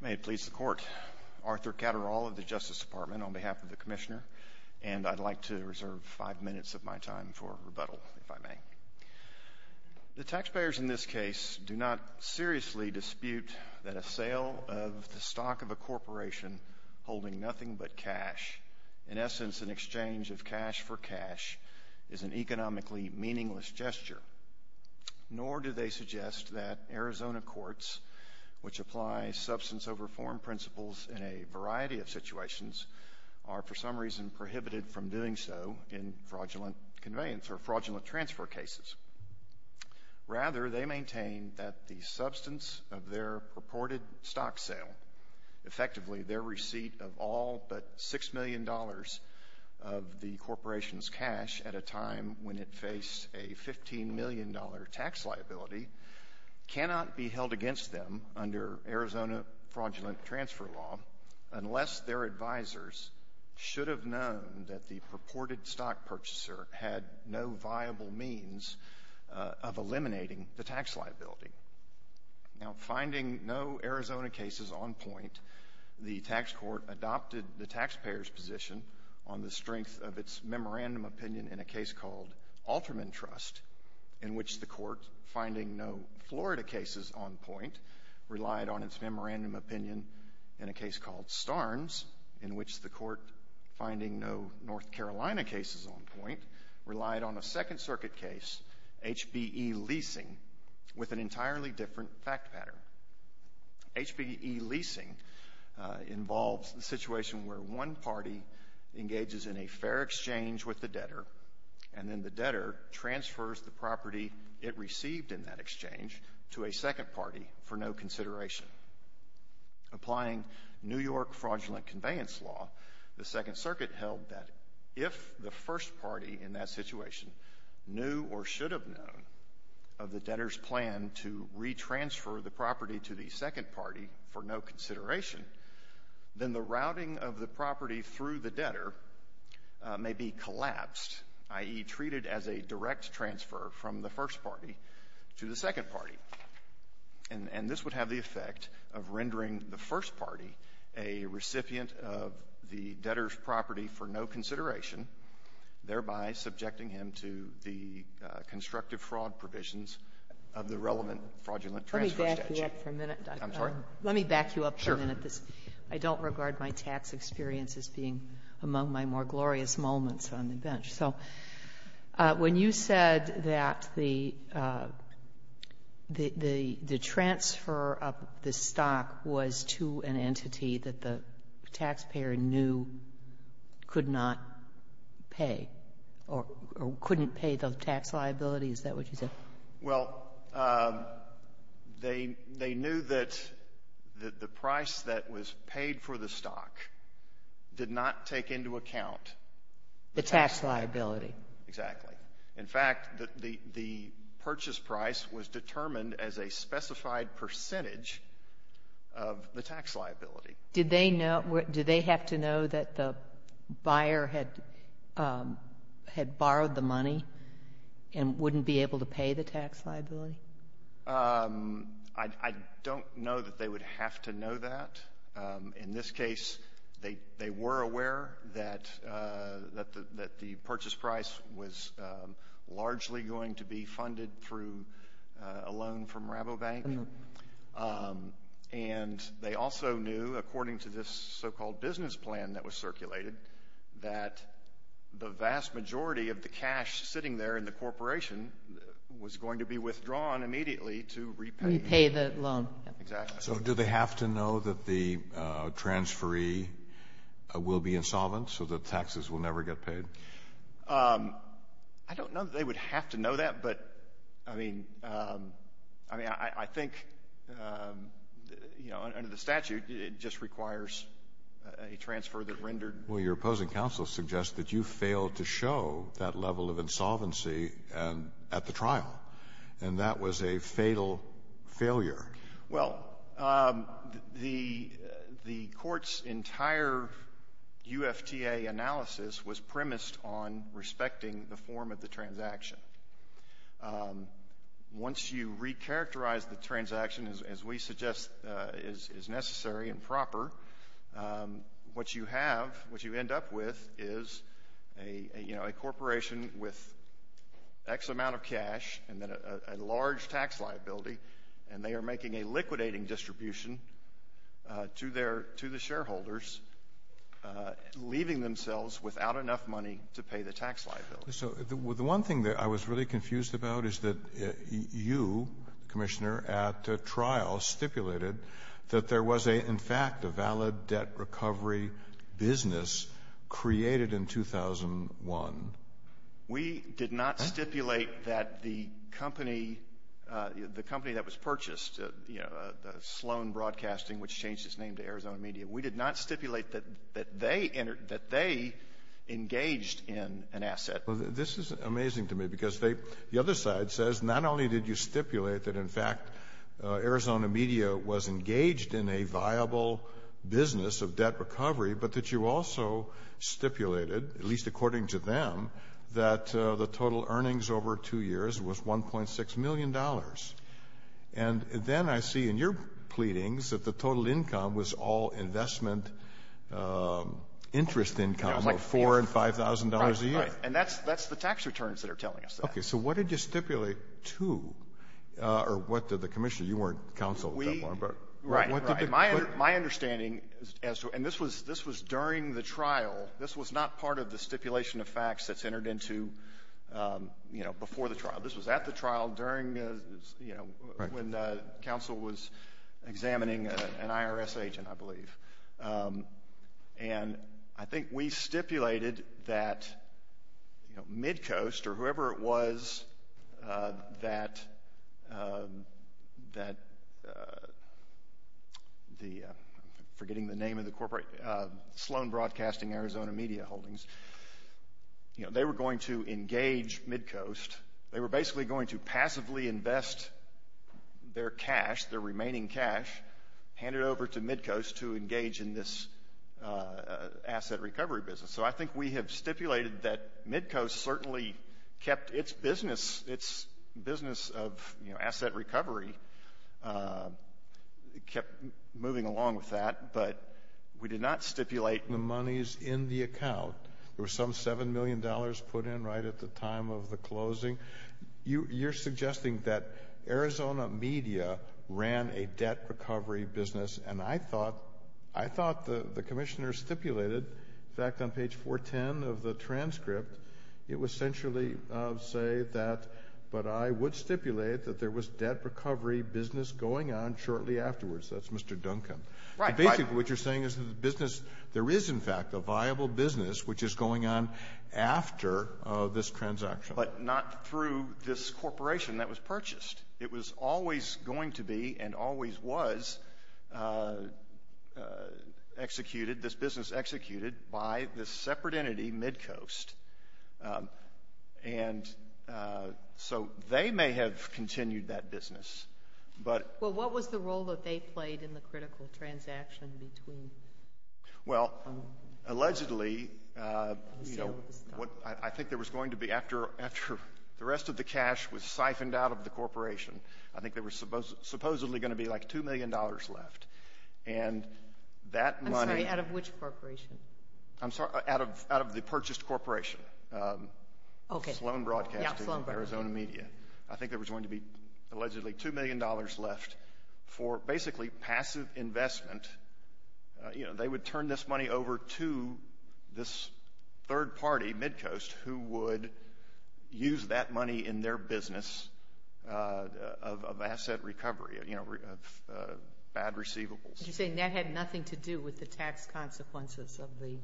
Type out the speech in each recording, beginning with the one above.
May it please the Court, Arthur Catterall of the Justice Department on behalf of the Commissioner and I'd like to reserve five minutes of my time for rebuttal, if I may. The taxpayers in this case do not seriously dispute that a sale of the stock of a corporation holding nothing but cash, in essence an exchange of cash for cash, is an economically meaningless gesture. Nor do they suggest that Arizona courts, which apply substance over form principles in a variety of situations, are for some reason prohibited from doing so in fraudulent conveyance or fraudulent transfer cases. Rather, they maintain that the substance of their purported stock sale, effectively their receipt of all but $6 million of the corporation's cash at a time when it faced a $15 million tax liability, cannot be held against them under Arizona fraudulent transfer law unless their advisors should have known that the purported stock purchaser had no viable means of eliminating the tax liability. Now, finding no Arizona cases on point, the tax court adopted the taxpayers' position on the strength of its memorandum opinion in a case called Alterman Trust, in which the court finding no Florida cases on point relied on its memorandum opinion in a case called Starnes, in which the court finding no North Carolina cases on point relied on a Second Circuit case, HBE Leasing, with an entirely different fact pattern. HBE Leasing involves the situation where one party engages in a fair exchange with the debtor, and then the debtor transfers the property it received in that exchange to a second party for no consideration. Applying New York fraudulent conveyance law, the Second Circuit held that if the first party in that situation knew or should have known of the debtor's plan to retransfer the property to the second party for no consideration, then the routing of the property through the debtor may be collapsed, i.e., treated as a direct transfer from the first party to the second party. And this would have the effect of rendering the first party a recipient of the debtor's property for no consideration, thereby subjecting him to the constructive fraud provisions of the relevant fraudulent transfer statute. Sotomayor, let me back you up for a minute. I'm sorry? Let me back you up for a minute. Sure. I don't regard my tax experience as being among my more glorious moments on the bench. So when you said that the transfer of the stock was to an entity that the taxpayer knew could not pay or couldn't pay the tax liability, is that what you said? Well, they knew that the price that was paid for the stock did not take into account the tax liability. Exactly. In fact, the purchase price was determined as a specified percentage of the tax liability. Did they have to know that the buyer had borrowed the money and wouldn't be able to pay the tax liability? I don't know that they would have to know that. In this case, they were aware that the purchase price was largely going to be funded through a loan from Rabobank. And they also knew, according to this so-called business plan that was circulated, that the vast majority of the cash sitting there in the corporation was going to be withdrawn immediately to repay the loan. Exactly. So do they have to know that the transferee will be insolvent so that taxes will never get paid? I don't know that they would have to know that, but, I mean, I think, you know, under the statute, it just requires a transfer that rendered — Well, your opposing counsel suggests that you failed to show that level of insolvency at the trial, and that was a fatal failure. Well, the court's entire UFTA analysis was premised on respecting the form of the transaction. Once you recharacterize the transaction as we suggest is necessary and proper, what you have, what you end up with, is a corporation with X amount of cash and then a large tax liability, and they are making a liquidating distribution to their — to the shareholders, leaving themselves without enough money to pay the tax liability. So the one thing that I was really confused about is that you, Commissioner, at trial stipulated that there was, in fact, a valid debt recovery business created in 2001. We did not stipulate that the company that was purchased, you know, the Sloan Broadcasting, which changed its name to Arizona Media, we did not stipulate that they engaged in an asset. Well, this is amazing to me because they — the other side says not only did you stipulate that, in fact, Arizona Media was engaged in a viable business of debt recovery, but that you also stipulated, at least according to them, that the total earnings over two years was $1.6 million. And then I see in your pleadings that the total income was all investment interest income of $4,000 and $5,000 a year. Right. And that's the tax returns that are telling us that. Okay. So what did you stipulate to — or what did the commissioner — you weren't counsel at that moment, but what did the — Right, right. My understanding as to — and this was during the trial. This was not part of the stipulation of facts that's entered into, you know, before the trial. This was at the trial during, you know, when counsel was examining an IRS agent, I believe. And I think we stipulated that, you know, Midcoast or whoever it was that the — I'm forgetting the name of the corporate — Sloan Broadcasting, Arizona Media Holdings, you know, they were going to engage Midcoast. They were basically going to passively invest their cash, their remaining cash, hand it over to Midcoast to engage in this asset recovery business. So I think we have stipulated that Midcoast certainly kept its business, its business of, you know, asset recovery, kept moving along with that. But we did not stipulate the monies in the account. There was some $7 million put in right at the time of the closing. You're suggesting that Arizona Media ran a debt recovery business, and I thought — I thought the commissioner stipulated, in fact, on page 410 of the transcript, it would essentially say that, but I would stipulate that there was debt recovery business going on shortly afterwards. That's Mr. Duncan. Right. Basically, what you're saying is that the business — there is, in fact, a viable business which is going on after this transaction. But not through this corporation that was purchased. It was always going to be and always was executed, this business executed by this separate entity, Midcoast. And so they may have continued that business, but — Well, what was the role that they played in the critical transaction between — Well, allegedly, you know, what — I think there was going to be — after the rest of the cash was siphoned out of the corporation, I think there was supposedly going to be like $2 million left. And that money — I'm sorry, out of which corporation? I'm sorry, out of the purchased corporation, Sloan Broadcasting and Arizona Media. I think there was going to be allegedly $2 million left for basically passive investment. You know, they would turn this money over to this third party, Midcoast, who would use that money in their business of asset recovery, you know, of bad receivables. You're saying that had nothing to do with the tax consequences of the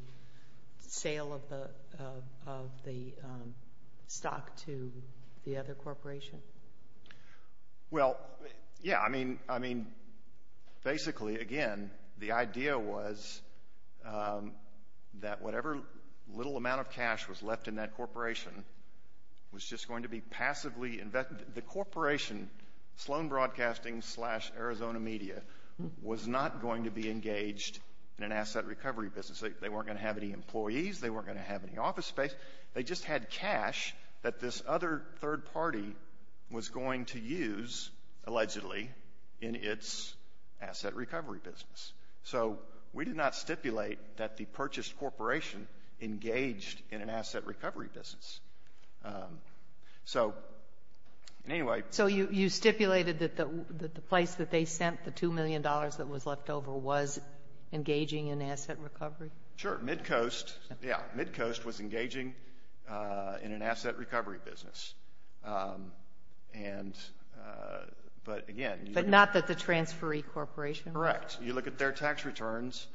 sale of the stock to the other corporation? Well, yeah. I mean, basically, again, the idea was that whatever little amount of cash was left in that corporation was just going to be passively invested. The corporation, Sloan Broadcasting slash Arizona Media, was not going to be engaged in an asset recovery business. They weren't going to have any employees. They weren't going to have any office space. They just had cash that this other third party was going to use, allegedly, in its asset recovery business. So we did not stipulate that the purchased corporation engaged in an asset recovery business. So, anyway. So you stipulated that the place that they sent the $2 million that was left over was engaging in asset recovery? Sure. Midcoast, yeah. Midcoast was engaging in an asset recovery business. And, but again. But not that the transferee corporation? Correct. You look at their tax returns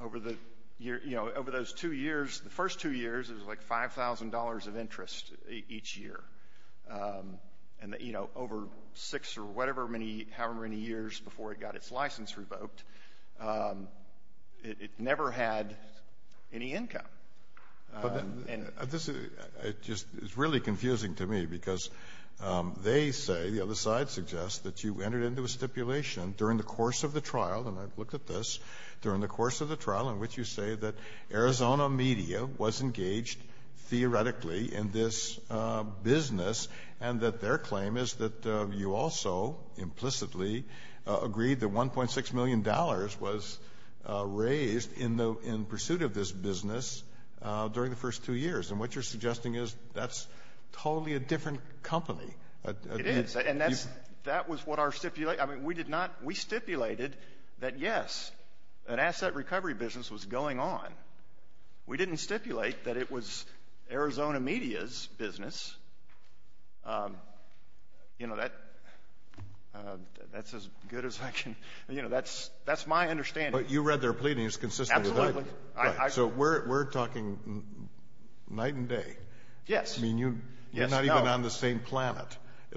over the year, you know, over those two years, the first two years, it was like $5,000 of interest each year. And, you know, over six or whatever many, however many years before it got its license revoked, it never had any income. But this is just really confusing to me because they say, the other side suggests, that you entered into a stipulation during the course of the trial. And I've looked at this. During the course of the trial in which you say that Arizona media was engaged theoretically in this business and that their claim is that you also implicitly agreed that $1.6 million was raised in pursuit of this business. During the first two years. And what you're suggesting is that's totally a different company. It is. And that's, that was what our stipulation, I mean, we did not, we stipulated that, yes, an asset recovery business was going on. We didn't stipulate that it was Arizona media's business. You know, that, that's as good as I can, you know, that's, that's my understanding. But you read their pleadings consistently. Absolutely. So we're, we're talking night and day. Yes. I mean, you, you're not even on the same planet.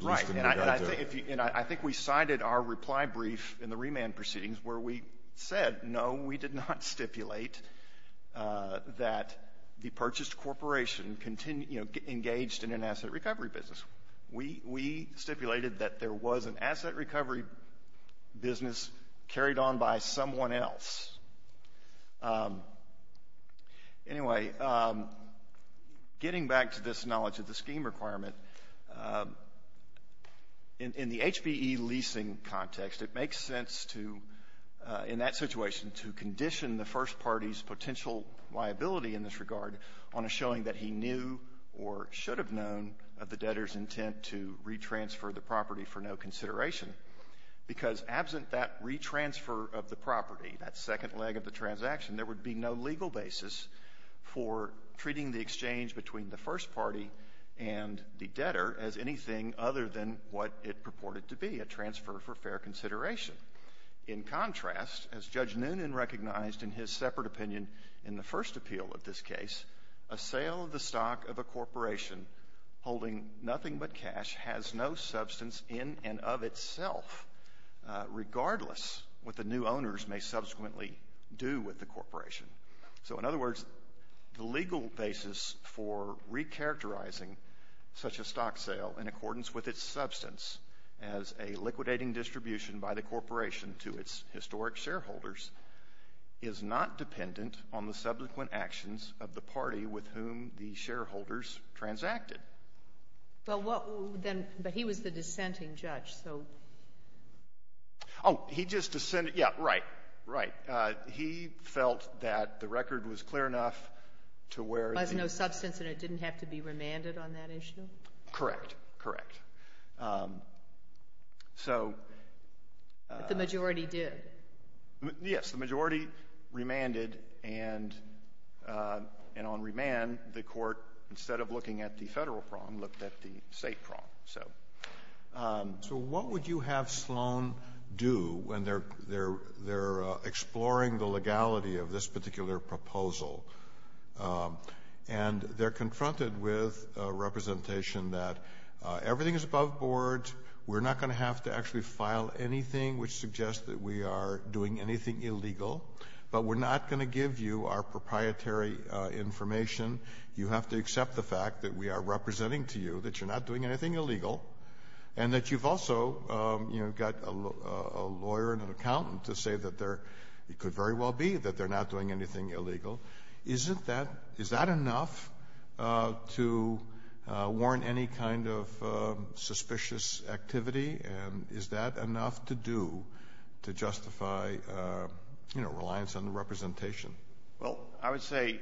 Right. And I think, and I think we cited our reply brief in the remand proceedings where we said, no, we did not stipulate that the purchased corporation continue, you know, engaged in an asset recovery business. We, we stipulated that there was an asset recovery business carried on by someone else. Anyway, getting back to this knowledge of the scheme requirement, in, in the HPE leasing context, it makes sense to, in that situation, to condition the first party's potential liability in this regard on a showing that he knew or should have known of the debtor's intent to retransfer the property for no consideration. Because absent that retransfer of the property, that second leg of the transaction, there would be no legal basis for treating the exchange between the first party and the debtor as anything other than what it purported to be, a transfer for fair consideration. In contrast, as Judge Noonan recognized in his separate opinion in the first appeal of this case, a sale of the stock of a corporation holding nothing but cash has no substance in and of itself, regardless what the new owners may subsequently do with the corporation. So, in other words, the legal basis for recharacterizing such a stock sale in accordance with its substance as a liquidating distribution by the corporation to its historic shareholders is not dependent on the subsequent actions of the party with whom the shareholders transacted. Well, what, then, but he was the dissenting judge, so. Oh, he just dissented, yeah, right, right. He felt that the record was clear enough to where the — There was no substance, and it didn't have to be remanded on that issue? Correct. Correct. So — But the majority did. Yes. The majority remanded, and on remand, the Court, instead of looking at the Federal prong, looked at the State prong, so. So what would you have Sloan do when they're exploring the legality of this particular proposal? And they're confronted with a representation that everything is above board, we're not going to have to actually file anything which suggests that we are doing anything illegal, but we're not going to give you our proprietary information. You have to accept the fact that we are representing to you that you're not doing anything illegal, and that you've also got a lawyer and an accountant to say that it could very well be that they're not doing anything illegal. Is that enough to warrant any kind of suspicious activity, and is that enough to do to justify reliance on the representation? Well, I would say,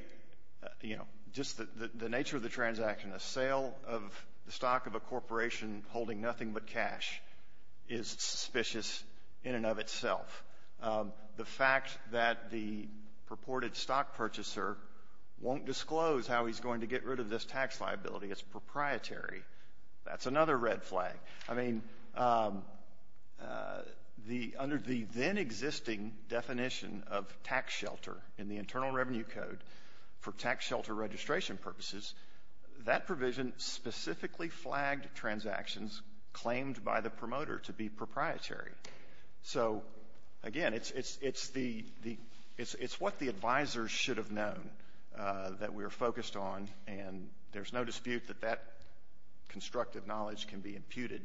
you know, just the nature of the transaction. A sale of the stock of a corporation holding nothing but cash is suspicious in and of itself. The fact that the purported stock purchaser won't disclose how he's going to get rid of this tax liability is proprietary. That's another red flag. I mean, under the then existing definition of tax shelter in the Internal Revenue Code for tax shelter registration purposes, that provision specifically flagged transactions claimed by the promoter to be proprietary. So, again, it's the — it's what the advisors should have known that we're focused on, and there's no dispute that that constructive knowledge can be imputed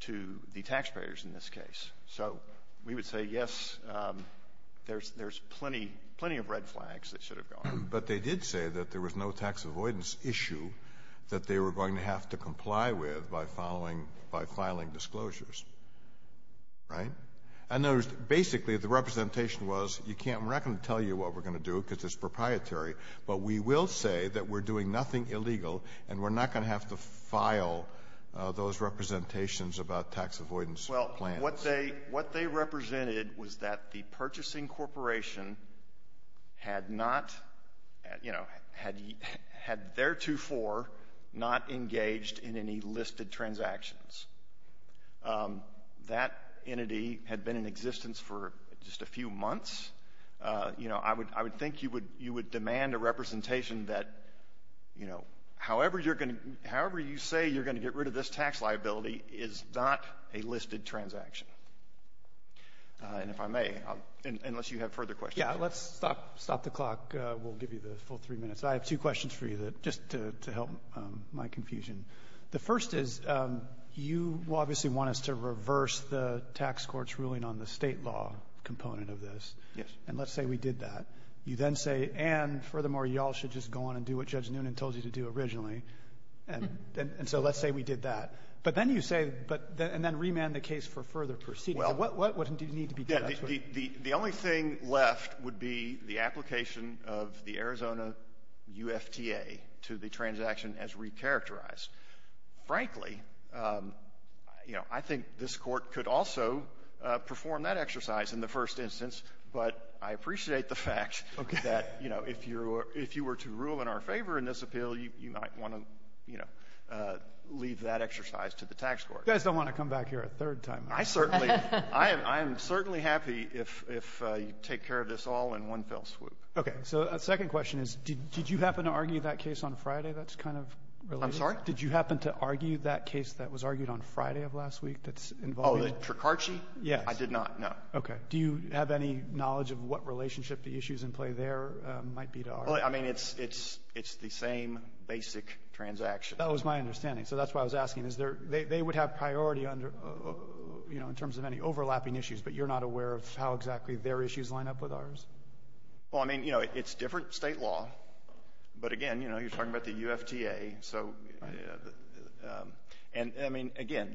to the taxpayers in this case. So we would say, yes, there's plenty of red flags that should have gone. But they did say that there was no tax avoidance issue that they were going to have to comply with by following — by filing disclosures, right? In other words, basically, the representation was, you can't — we're not going to tell you what we're going to do because it's proprietary, but we will say that we're doing nothing illegal, and we're not going to have to file those representations about tax avoidance plans. And what they represented was that the purchasing corporation had not — you know, had theretofore not engaged in any listed transactions. That entity had been in existence for just a few months. You know, I would think you would demand a representation that, you know, however you're going to — however you say you're going to get rid of this tax liability is not a listed transaction. And if I may, unless you have further questions. Yeah, let's stop the clock. We'll give you the full three minutes. I have two questions for you that — just to help my confusion. The first is, you obviously want us to reverse the tax court's ruling on the State law component of this. Yes. And let's say we did that. You then say, and furthermore, you all should just go on and do what Judge Noonan told you to do originally. And so let's say we did that. But then you say — and then remand the case for further proceedings. What do you need to be done? The only thing left would be the application of the Arizona UFTA to the transaction as recharacterized. Frankly, you know, I think this Court could also perform that exercise in the first instance. But I appreciate the fact that, you know, if you were to rule in our favor in this appeal, you might want to, you know, leave that exercise to the tax court. You guys don't want to come back here a third time. I certainly — I am certainly happy if you take care of this all in one fell swoop. Okay. So a second question is, did you happen to argue that case on Friday that's kind of related? I'm sorry? Did you happen to argue that case that was argued on Friday of last week that's involving — Oh, the Tricarci? Yes. I did not, no. Okay. Do you have any knowledge of what relationship the issues in play there might be to our — Well, I mean, it's the same basic transaction. That was my understanding. So that's why I was asking. Is there — they would have priority under — you know, in terms of any overlapping issues, but you're not aware of how exactly their issues line up with ours? Well, I mean, you know, it's different State law. But, again, you know, you're talking about the UFTA. So — and, I mean, again,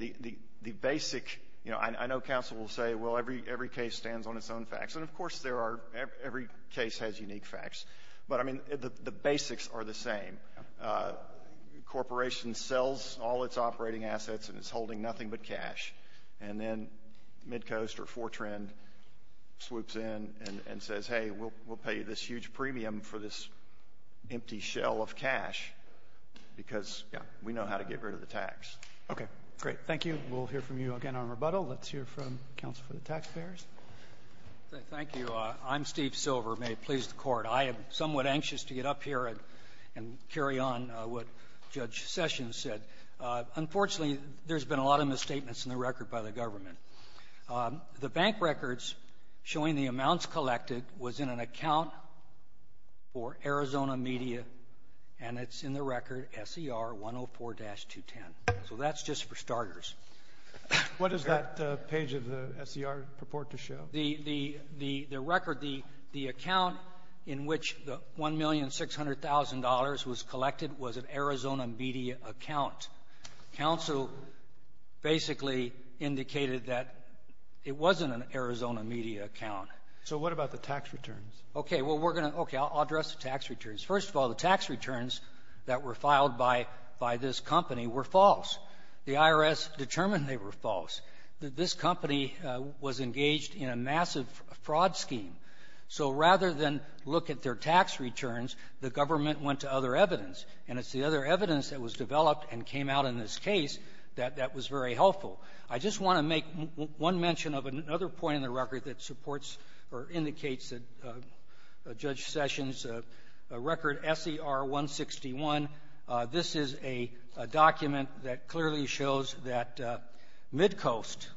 the basic — you know, I know counsel will say, well, every case stands on its own facts. And, of course, there are — every case has unique facts. But, I mean, the basics are the same. A corporation sells all its operating assets and is holding nothing but cash. And then Midcoast or Fortran swoops in and says, hey, we'll pay you this huge premium for this empty shell of cash because, yeah, we know how to get rid of the tax. Okay. Great. Thank you. We'll hear from you again on rebuttal. Let's hear from counsel for the taxpayers. Thank you. I'm Steve Silver. May it please the Court. I am somewhat anxious to get up here and carry on what Judge Sessions said. Unfortunately, there's been a lot of misstatements in the record by the government. The bank records showing the amounts collected was in an account for Arizona Media, and it's in the record SER 104-210. So that's just for starters. What does that page of the SER purport to show? The record, the account in which the $1,600,000 was collected was an Arizona Media account. Counsel basically indicated that it wasn't an Arizona Media account. So what about the tax returns? Okay. Well, we're going to — okay. I'll address the tax returns. First of all, the tax returns that were filed by this company were false. The IRS determined they were false. This company was engaged in a massive fraud scheme. So rather than look at their tax returns, the government went to other evidence, and it's the other evidence that was developed and came out in this case that that was very helpful. I just want to make one mention of another point in the record that supports or indicates that Judge Sessions' record, SER 161, this is a document that clearly shows that Midcoast,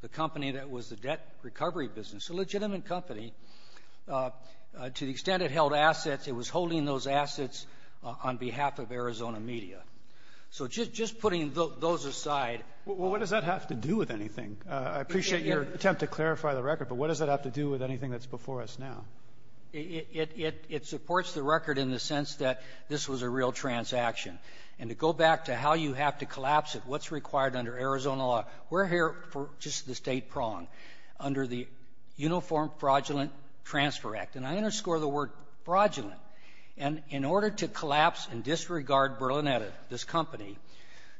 the company that was the debt recovery business, a legitimate company, to the extent it held assets, it was holding those assets on behalf of Arizona Media. So just putting those aside — Well, what does that have to do with anything? I appreciate your attempt to clarify the record, but what does that have to do with anything that's before us now? It supports the record in the sense that this was a real transaction. And to go back to how you have to collapse it, what's required under Arizona law, we're here for just the State prong under the Uniform Fraudulent Transfer Act. And I underscore the word fraudulent. And in order to collapse and disregard Berlinetta, this company,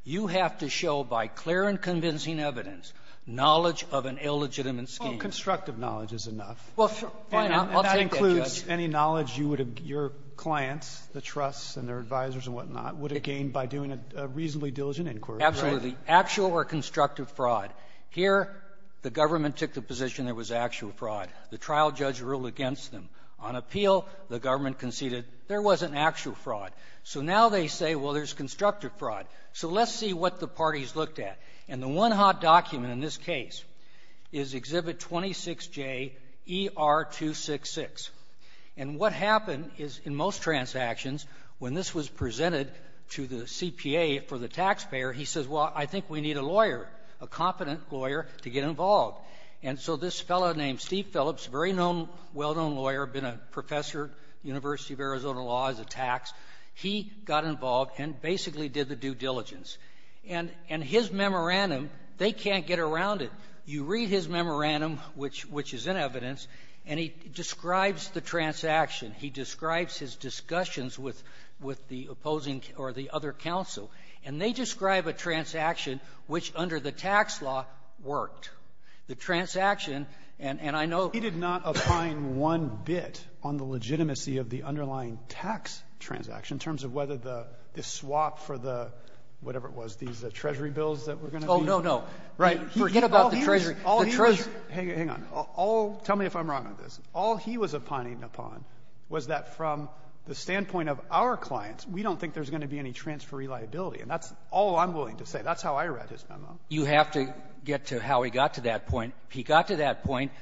you have to show by clear and convincing evidence knowledge of an illegitimate scheme. Well, constructive knowledge is enough. Well, fine. I'll take that, Judge. And that includes any knowledge you would have — your clients, the trusts and their clients, would have gained by doing a reasonably diligent inquiry, right? Absolutely. Actual or constructive fraud. Here, the government took the position there was actual fraud. The trial judge ruled against them. On appeal, the government conceded there wasn't actual fraud. So now they say, well, there's constructive fraud. So let's see what the parties looked at. And the one hot document in this case is Exhibit 26JER266. And what happened is, in most transactions, when this was presented to the CPA for the taxpayer, he says, well, I think we need a lawyer, a competent lawyer, to get involved. And so this fellow named Steve Phillips, very well-known lawyer, been a professor at the University of Arizona Law as a tax, he got involved and basically did the due diligence. And his memorandum, they can't get around it. You read his memorandum, which is in evidence, and he describes the transaction. He describes his discussions with the opposing or the other counsel. And they describe a transaction which, under the tax law, worked. The transaction, and I know — He did not opine one bit on the legitimacy of the underlying tax transaction in terms of whether the swap for the, whatever it was, these Treasury bills that were going to be — Oh, no, no. Right. Forget about the Treasury. The Treasury — Hang on. All — tell me if I'm wrong on this. All he was opining upon was that from the standpoint of our clients, we don't think there's going to be any transferee liability. And that's all I'm willing to say. That's how I read his memo. You have to get to how he got to that point. He got to that point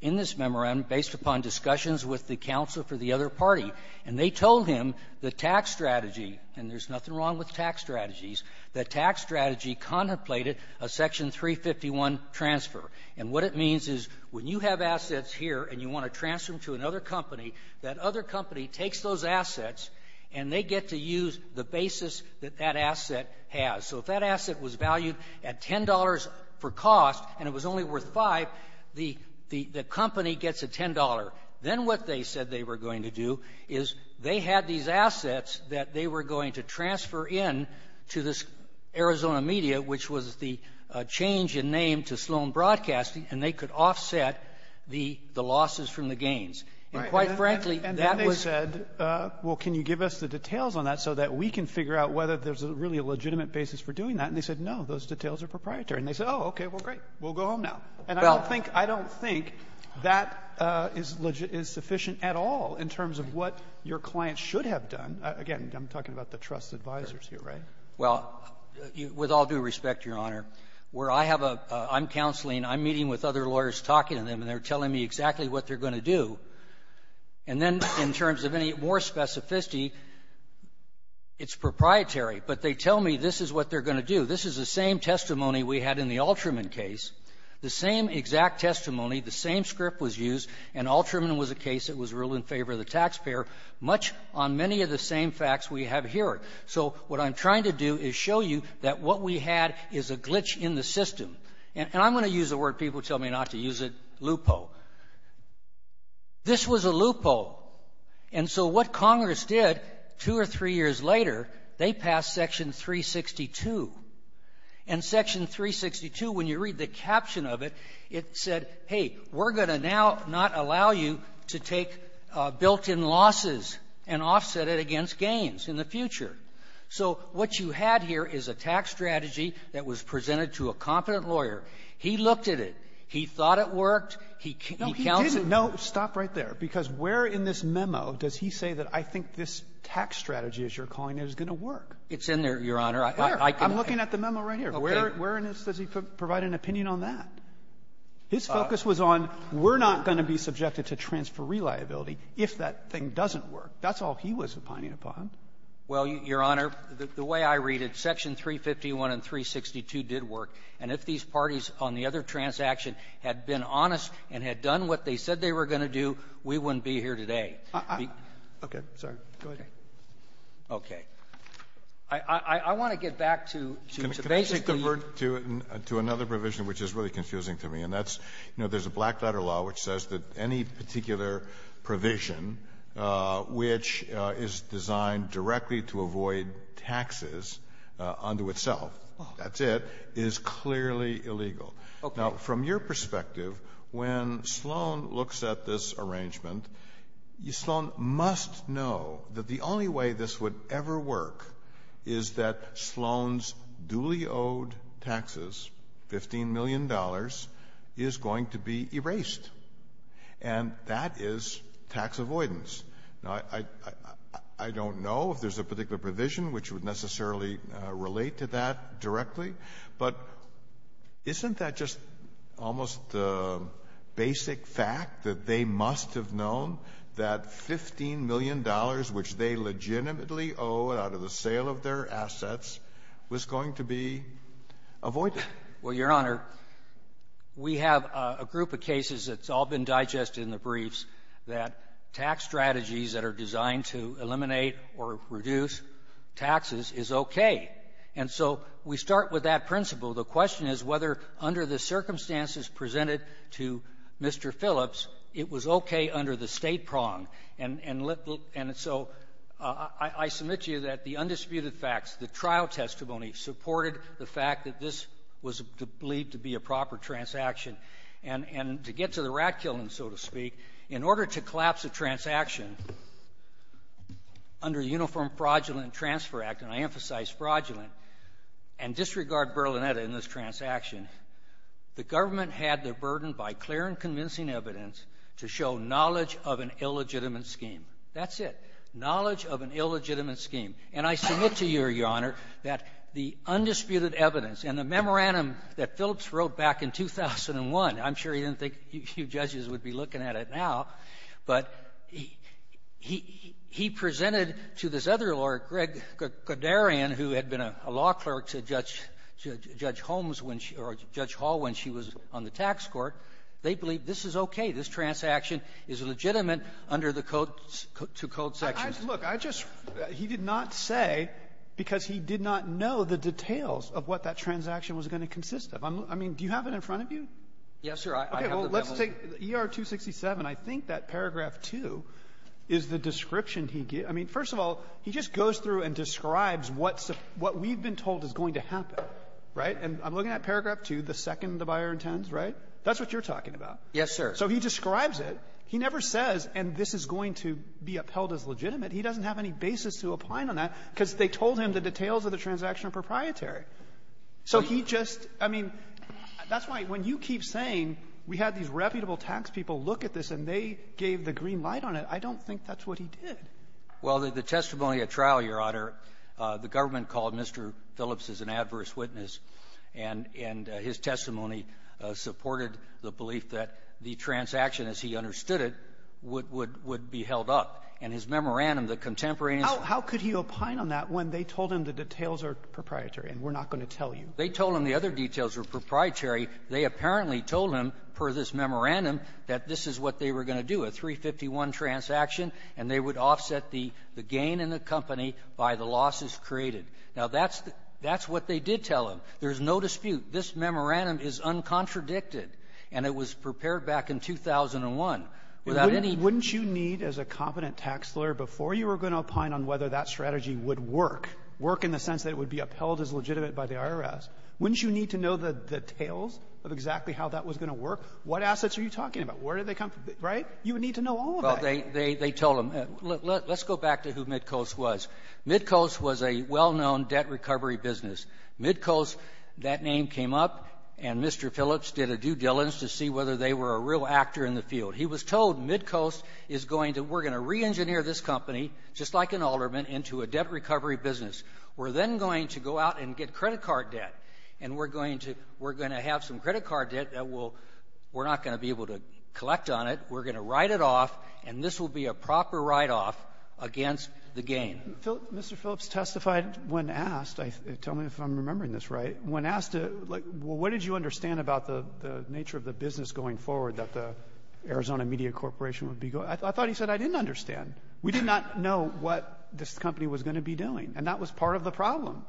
in this memorandum based upon discussions with the counsel for the other party. And they told him the tax strategy, and there's nothing wrong with tax strategies, the tax strategy contemplated a Section 351 transfer. And what it means is when you have assets here and you want to transfer them to another company, that other company takes those assets and they get to use the basis that that asset has. So if that asset was valued at $10 for cost and it was only worth $5, the — the — the company gets a $10. Then what they said they were going to do is they had these assets that they were going to transfer in to this Arizona Media, which was the change in name to Sloan Broadcasting, and they could offset the — the losses from the gains. And quite frankly, that was — And then they said, well, can you give us the details on that so that we can figure out whether there's really a legitimate basis for doing that? And they said, no, those details are proprietary. And they said, oh, okay, well, great. We'll go home now. And I don't think — I don't think that is — is sufficient at all in terms of what your clients should have done. Again, I'm talking about the trust advisers here, right? Well, with all due respect, Your Honor, where I have a — I'm counseling. I'm meeting with other lawyers, talking to them, and they're telling me exactly what they're going to do. And then in terms of any more specificity, it's proprietary. But they tell me this is what they're going to do. This is the same testimony we had in the Alterman case. The same exact testimony, the same script was used. And Alterman was a case that was ruled in favor of the taxpayer. Much on many of the same facts we have here. So what I'm trying to do is show you that what we had is a glitch in the system. And I'm going to use a word people tell me not to use it, loophole. This was a loophole. And so what Congress did two or three years later, they passed Section 362. And Section 362, when you read the caption of it, it said, hey, we're going to now not allow you to take built-in losses and offset it against gains in the future. So what you had here is a tax strategy that was presented to a competent lawyer. He looked at it. He thought it worked. He counseled. No, he didn't. No, stop right there. Because where in this memo does he say that I think this tax strategy, as you're calling it, is going to work? It's in there, Your Honor. I can — I'm looking at the memo right here. Okay. Where in this does he provide an opinion on that? His focus was on we're not going to be subjected to transferee liability if that thing doesn't work. That's all he was opining upon. Well, Your Honor, the way I read it, Section 351 and 362 did work. And if these parties on the other transaction had been honest and had done what they said they were going to do, we wouldn't be here today. Okay. Sorry. Go ahead. Okay. I want to get back to the basis of the ---- To another provision which is really confusing to me, and that's, you know, there's a black-letter law which says that any particular provision which is designed directly to avoid taxes unto itself, that's it, is clearly illegal. Okay. Now, from your perspective, when Sloan looks at this arrangement, Sloan must know that the only way this would ever work is that Sloan's duly-owed taxes, $15 million, is going to be erased. And that is tax avoidance. Now, I don't know if there's a particular provision which would necessarily relate to that directly, but isn't that just almost a basic fact that they must have known that $15 million, which they legitimately owe out of the sale of their assets, was going to be avoided? Well, Your Honor, we have a group of cases that's all been digested in the briefs that tax strategies that are designed to eliminate or reduce taxes is okay. And so we start with that principle. The question is whether under the circumstances presented to Mr. Phillips, it was okay under the State prong. And so I submit to you that the undisputed facts, the trial testimony, supported the fact that this was believed to be a proper transaction. And to get to the rat killing, so to speak, in order to collapse a transaction under the Uniform Fraudulent Transfer Act, and I emphasize fraudulent, and disregard Berlinetta in this transaction, the government had the burden by clear and convincing evidence to show knowledge of an illegitimate scheme. That's it. Knowledge of an illegitimate scheme. And I submit to you, Your Honor, that the undisputed evidence and the memorandum that Phillips wrote back in 2001, I'm sure he didn't think you judges would be looking at it now, but he presented to this other lawyer, Greg Guderian, who had been a law clerk to Judge Holmes when she or Judge Hall when she was on the tax court, they believed that this is okay, this transaction is legitimate under the code to code sections. Look, I just he did not say because he did not know the details of what that transaction was going to consist of. I mean, do you have it in front of you? Yes, sir. I have the memo. Okay. Well, let's take ER-267. I think that paragraph 2 is the description he gave. I mean, first of all, he just goes through and describes what we've been told is going to happen, right? And I'm looking at paragraph 2, the second the buyer intends, right? That's what you're talking about. Yes, sir. So he describes it. He never says, and this is going to be upheld as legitimate. He doesn't have any basis to opine on that because they told him the details of the transaction are proprietary. So he just – I mean, that's why when you keep saying we had these reputable tax people look at this and they gave the green light on it, I don't think that's what he did. Well, the testimony at trial, Your Honor, the government called Mr. Phillips as an adverse witness, and his testimony supported the belief that the transaction, as he understood it, would be held up. And his memorandum, the contemporaneous – How could he opine on that when they told him the details are proprietary and we're not going to tell you? They told him the other details were proprietary. They apparently told him, per this memorandum, that this is what they were going to do, a 351 transaction, and they would offset the gain in the company by the losses created. Now, that's the – that's what they did tell him. There's no dispute. This memorandum is uncontradicted, and it was prepared back in 2001. Without any – Wouldn't you need, as a competent tax lawyer, before you were going to opine on whether that strategy would work, work in the sense that it would be upheld as legitimate by the IRS, wouldn't you need to know the details of exactly how that was going to work? What assets are you talking about? Where did they come from? Right? You would need to know all of that. Well, they – they told him – let's go back to who Mitkos was. Mitkos was a well-known debt recovery business. Mitkos, that name came up, and Mr. Phillips did a due diligence to see whether they were a real actor in the field. He was told Mitkos is going to – we're going to reengineer this company, just like an alderman, into a debt recovery business. We're then going to go out and get credit card debt, and we're going to – we're going to have some credit card debt that we'll – we're not going to be able to collect on it. We're going to write it off, and this will be a proper write-off against the gain. Mr. Phillips testified when asked – tell me if I'm remembering this right – when asked to, like, well, what did you understand about the nature of the business going forward that the Arizona Media Corporation would be – I thought he said I didn't understand. We did not know what this company was going to be doing, and that was part of the problem,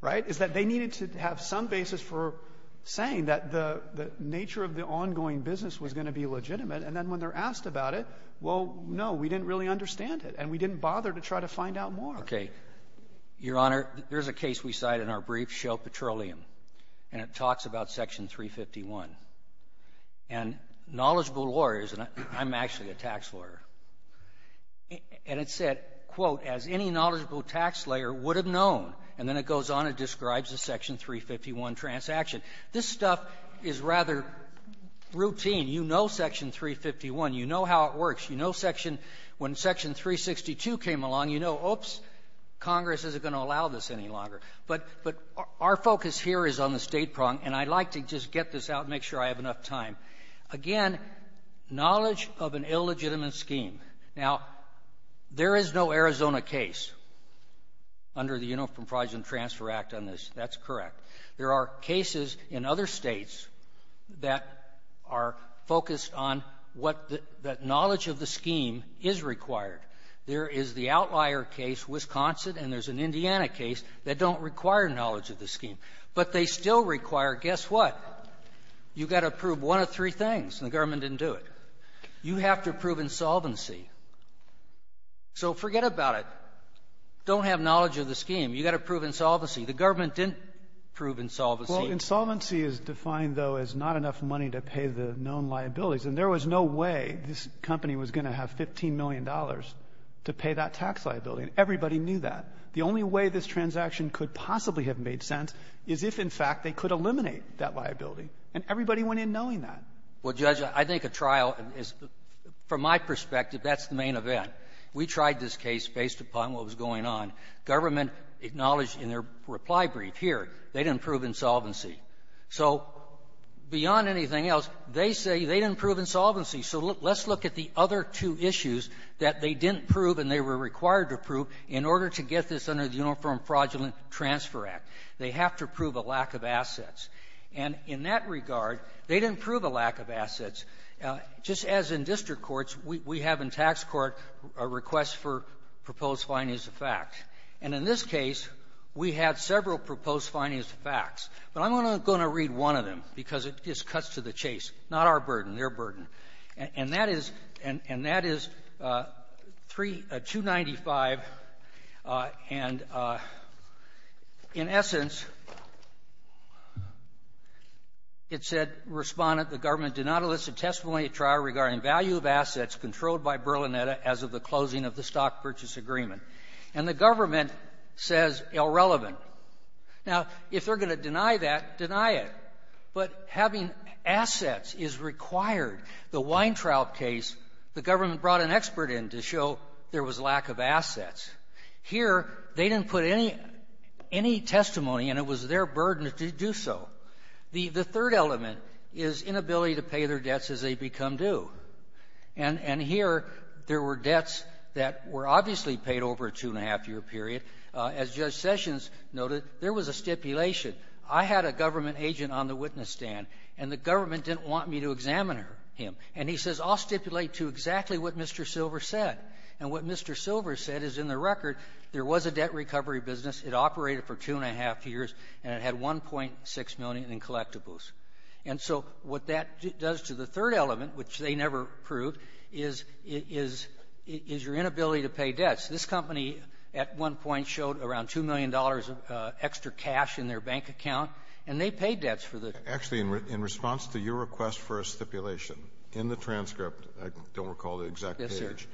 right, is that they needed to have some basis for saying that the nature of the ongoing business was going to be legitimate, and then when they're asked about it, well, no, we didn't really understand it, and we didn't bother to try to find out more. Okay. Your Honor, there's a case we cite in our brief, Shell Petroleum, and it talks about Section 351. And knowledgeable lawyers – and I'm actually a tax lawyer – and it said, quote, as any knowledgeable tax layer would have known, and then it goes on and describes the Section 351 transaction. This stuff is rather routine. You know Section 351. You know how it works. You know Section – when Section 362 came along, you know, oops, Congress isn't going to allow this any longer. But our focus here is on the state prong, and I'd like to just get this out and make sure I have enough time. Again, knowledge of an illegitimate scheme. Now, there is no Arizona case under the Uniform Fraud and Transfer Act on this. That's correct. There are cases in other states that are focused on what the – that knowledge of the scheme is required. There is the outlier case, Wisconsin, and there's an Indiana case that don't require knowledge of the scheme. But they still require, guess what? You've got to prove one of three things, and the government didn't do it. You have to prove insolvency. So forget about it. Don't have knowledge of the scheme. You've got to prove insolvency. The government didn't prove insolvency. Well, insolvency is defined, though, as not enough money to pay the known liabilities. And there was no way this company was going to have $15 million to pay that tax liability. And everybody knew that. The only way this transaction could possibly have made sense is if, in fact, they could eliminate that liability. And everybody went in knowing that. Well, Judge, I think a trial is – from my perspective, that's the main event. We tried this case based upon what was going on. Government acknowledged in their reply brief here they didn't prove insolvency. So beyond anything else, they say they didn't prove insolvency. So let's look at the other two issues that they didn't prove and they were required to prove in order to get this under the Uniform Fraudulent Transfer Act. They have to prove a lack of assets. And in that regard, they didn't prove a lack of assets. Now, just as in district courts, we have in tax court a request for proposed findings of fact. And in this case, we had several proposed findings of facts. But I'm only going to read one of them because it just cuts to the chase, not our burden, their burden. And that is – and that is 295, and in essence, it said, Respondent, the government did not elicit testimony at trial regarding value of assets controlled by Berlinetta as of the closing of the Stock Purchase Agreement. And the government says irrelevant. Now, if they're going to deny that, deny it. But having assets is required. The Weintraub case, the government brought an expert in to show there was lack of assets. Here, they didn't put any – any testimony, and it was their burden to do so. The third element is inability to pay their debts as they become due. And here, there were debts that were obviously paid over a two-and-a-half-year period. As Judge Sessions noted, there was a stipulation. I had a government agent on the witness stand, and the government didn't want me to examine him. And he says, I'll stipulate to exactly what Mr. Silver said. And what Mr. Silver said is, in the record, there was a debt recovery business. It operated for two-and-a-half years, and it had $1.6 million in collectibles. And so what that does to the third element, which they never proved, is – is – is your inability to pay debts. This company at one point showed around $2 million of extra cash in their bank account, and they paid debts for the – Actually, in response to your request for a stipulation in the transcript, I don't recall the exact page,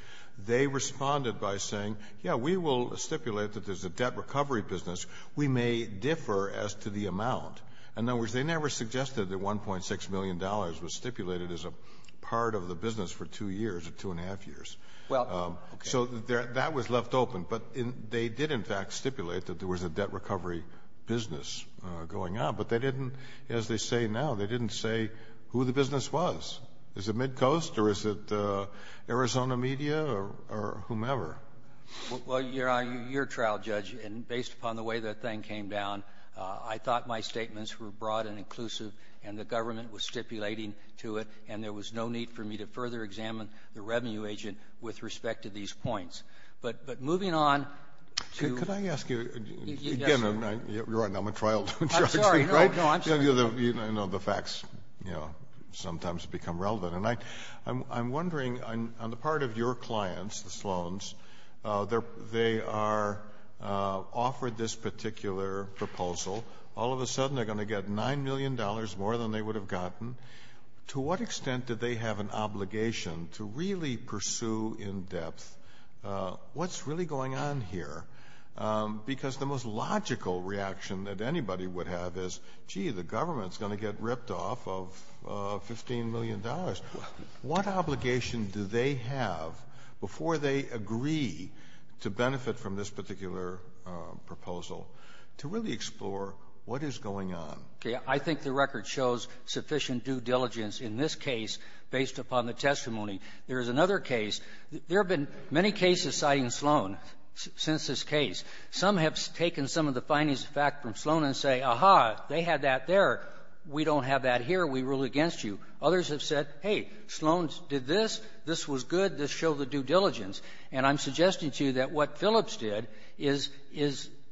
they responded by saying, yeah, we will stipulate that there's a debt recovery business. We may differ as to the amount. In other words, they never suggested that $1.6 million was stipulated as a part of the business for two years or two-and-a-half years. So that was left open. But they did, in fact, stipulate that there was a debt recovery business going on. But they didn't, as they say now, they didn't say who the business was. Is it Midcoast or is it Arizona Media or whomever? Well, Your Honor, you're a trial judge, and based upon the way that thing came down, I thought my statements were broad and inclusive, and the government was stipulating to it, and there was no need for me to further examine the revenue agent with respect to these points. But moving on to — Could I ask you — Yes, sir. Again, you're right, and I'm a trial judge. I'm sorry. No, no, I'm sorry. I know the facts, you know, sometimes become relevant. And I'm wondering, on the part of your clients, the Sloans, they are — offered this particular proposal. All of a sudden, they're going to get $9 million more than they would have gotten. To what extent do they have an obligation to really pursue in depth what's really going on here? Because the most logical reaction that anybody would have is, gee, the government's going to get ripped off of $15 million. What obligation do they have, before they agree to benefit from this particular proposal, to really explore what is going on? Okay. I think the record shows sufficient due diligence in this case based upon the testimony. There is another case. There have been many cases citing Sloan since this case. Some have taken some of the findings of fact from Sloan and say, aha, they had that there. We don't have that here. We rule against you. Others have said, hey, Sloan did this. This was good. This showed the due diligence. And I'm suggesting to you that what Phillips did is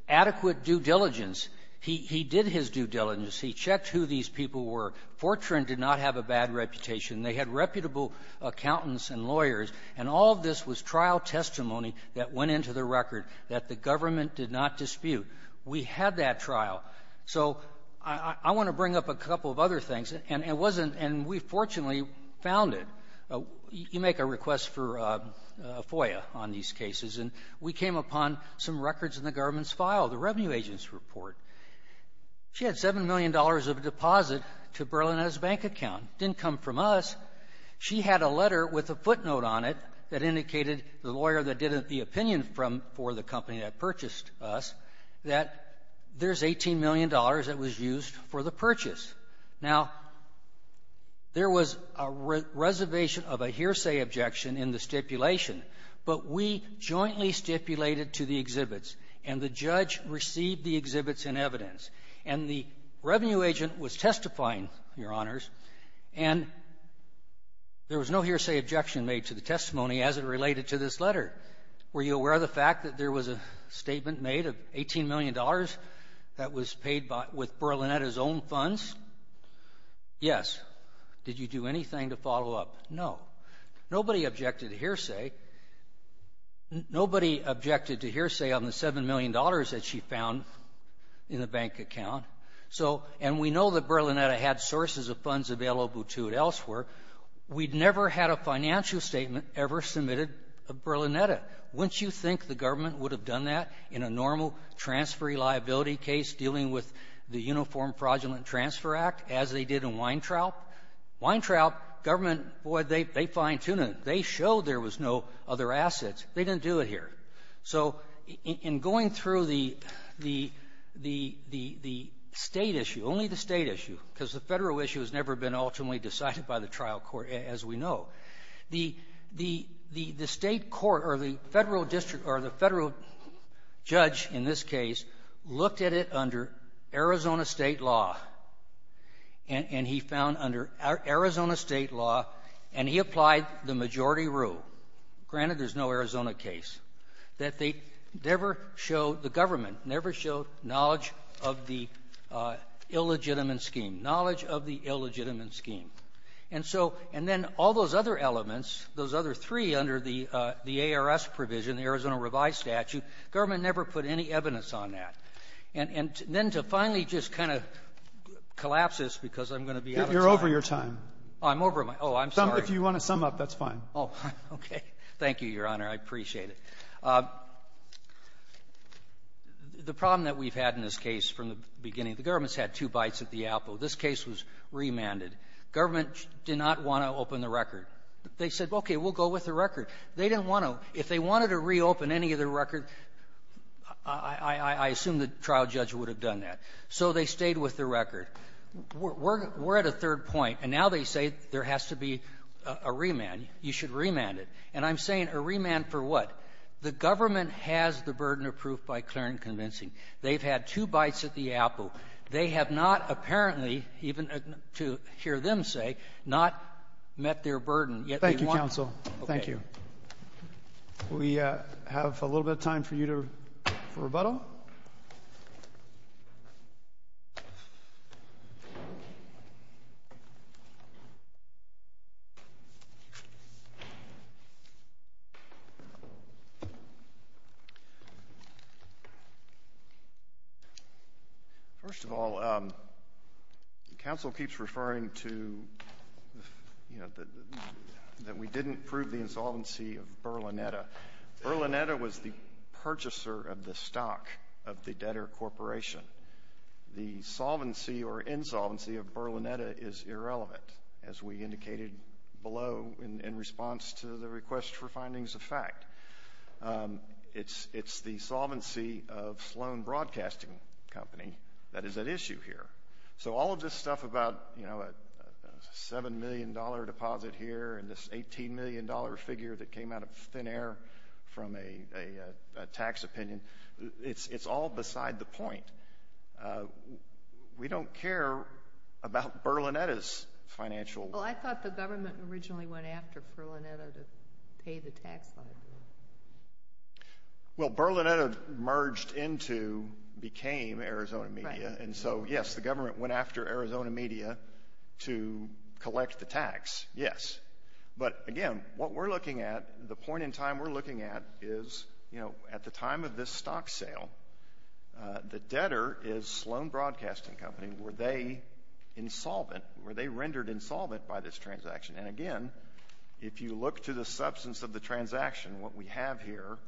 adequate due diligence. He did his due diligence. He checked who these people were. Fortran did not have a bad reputation. They had reputable accountants and lawyers. And all of this was trial testimony that went into the record that the government did not dispute. We had that trial. So I want to bring up a couple of other things. And it wasn't — and we fortunately found it. You make a request for FOIA on these cases. And we came upon some records in the government's file, the Revenue Agent's report. She had $7 million of a deposit to Berlinetta's bank account. It didn't come from us. She had a letter with a footnote on it that indicated the lawyer that did it, the used for the purchase. Now, there was a reservation of a hearsay objection in the stipulation. But we jointly stipulated to the exhibits. And the judge received the exhibits in evidence. And the Revenue Agent was testifying, Your Honors. And there was no hearsay objection made to the testimony as it related to this letter. Were you aware of the fact that there was a statement made of $18 million that was paid by — with Berlinetta's own funds? Yes. Did you do anything to follow up? No. Nobody objected to hearsay. Nobody objected to hearsay on the $7 million that she found in the bank account. So — and we know that Berlinetta had sources of funds available to it elsewhere. We'd never had a financial statement ever submitted of Berlinetta. Wouldn't you think the government would have done that in a normal transferee liability case dealing with the Uniform Fraudulent Transfer Act as they did in Weintraub? Weintraub, government, boy, they fine-tuned it. They showed there was no other assets. They didn't do it here. So in going through the — the State issue, only the State issue, because the Federal issue has never been ultimately decided by the trial court, as we know, the — the looked at it under Arizona State law. And he found under Arizona State law — and he applied the majority rule. Granted, there's no Arizona case. That they never showed — the government never showed knowledge of the illegitimate scheme, knowledge of the illegitimate scheme. And so — and then all those other elements, those other three under the — the ARS provision, the Arizona Revised Statute, government never put any evidence on that. And then to finally just kind of collapse this, because I'm going to be out of time. You're over your time. I'm over my — oh, I'm sorry. If you want to sum up, that's fine. Oh, okay. Thank you, Your Honor. I appreciate it. The problem that we've had in this case from the beginning, the government's had two bites at the apple. This case was remanded. Government did not want to open the record. They said, okay, we'll go with the record. They didn't want to. If they wanted to reopen any of the record, I assume the trial judge would have done that. So they stayed with the record. We're at a third point. And now they say there has to be a remand. You should remand it. And I'm saying a remand for what? The government has the burden of proof by clear and convincing. They've had two bites at the apple. They have not apparently, even to hear them say, not met their burden. Yet they want — Thank you, counsel. Thank you. We have a little bit of time for you to — for rebuttal. First of all, counsel keeps referring to, you know, that we didn't prove the insolvency of Berlinetta. Berlinetta was the purchaser of the stock of the debtor corporation. The solvency or insolvency of Berlinetta is irrelevant, as we indicated below in response to the request for findings of fact. It's the solvency of Sloan Broadcasting Company that is at issue here. So all of this stuff about, you know, a $7 million deposit here and this $18 million figure that came out of thin air from a tax opinion, it's all beside the point. We don't care about Berlinetta's financial — Well, I thought the government originally went after Berlinetta to pay the tax liability. Well, Berlinetta merged into — became Arizona Media. And so, yes, the government went after Arizona Media to collect the tax, yes. But again, what we're looking at, the point in time we're looking at is, you know, at the time of this stock sale, the debtor is Sloan Broadcasting Company. And were they insolvent? Were they rendered insolvent by this transaction? And again, if you look to the substance of the transaction, what we have here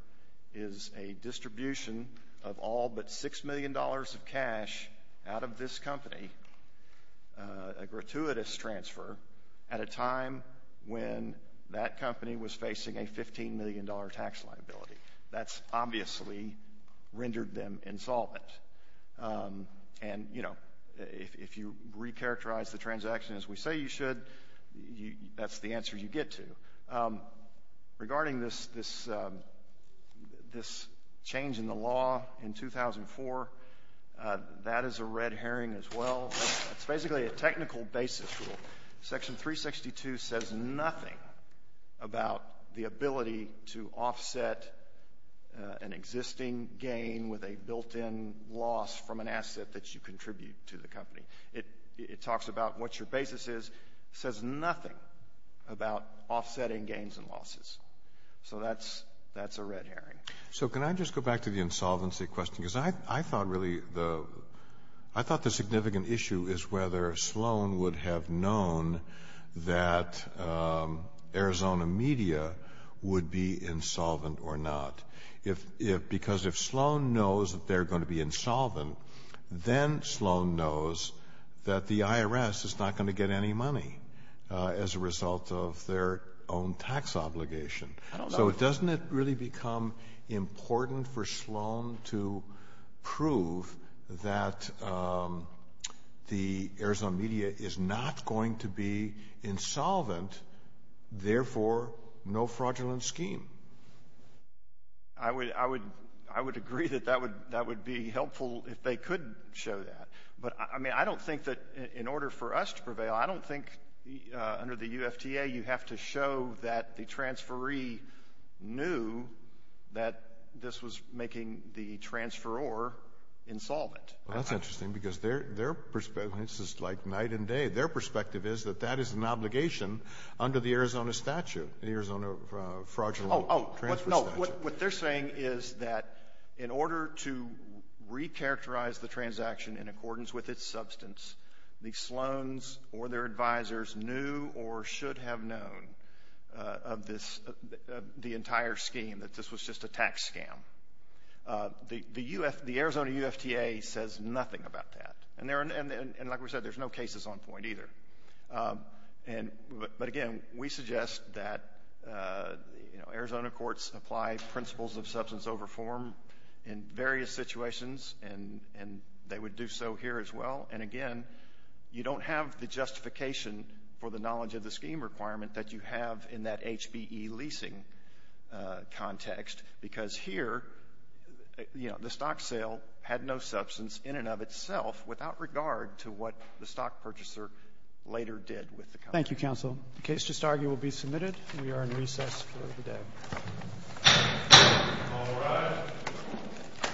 is a distribution of all but $6 million of cash out of this company, a gratuitous transfer, at a time when that company was facing a $15 million tax liability. That's obviously rendered them insolvent. And, you know, if you recharacterize the transaction as we say you should, that's the answer you get to. Regarding this change in the law in 2004, that is a red herring as well. It's basically a technical basis rule. Section 362 says nothing about the ability to offset an existing gain with a built-in loss from an asset that you contribute to the company. It talks about what your basis is. It says nothing about offsetting gains and losses. So that's a red herring. So can I just go back to the insolvency question, because I thought really the — I thought the significant issue is whether Sloan would have known that Arizona Media would be insolvent or not. If — because if Sloan knows that they're going to be insolvent, then Sloan knows that the IRS is not going to get any money as a result of their own tax obligation. So doesn't it really become important for Sloan to prove that the Arizona Media is not going to be insolvent, therefore no fraudulent scheme? I would agree that that would be helpful if they could show that. But I mean, I don't think that in order for us to prevail, I don't think under the UFTA you have to show that the transferee knew that this was making the transferor insolvent. Well, that's interesting, because their perspective — this is like night and day. Their perspective is that that is an obligation under the Arizona statute, the Arizona Fraudulent Transfer Statute. Oh, oh, no. What they're saying is that in order to recharacterize the transaction in accordance with its substance, the Sloans or their advisers knew or should have known of this — the entire scheme, that this was just a tax scam. The Arizona UFTA says nothing about that. And like we said, there's no cases on point either. But again, we suggest that, you know, Arizona courts apply principles of substance over form in various situations, and they would do so here as well. And again, you don't have the justification for the knowledge of the scheme requirement that you have in that HBE leasing context, because here, you know, the stock sale had no substance in and of itself without regard to what the stock purchaser later did with the company. Thank you, counsel. The case to argue will be submitted. We are in recess for the day.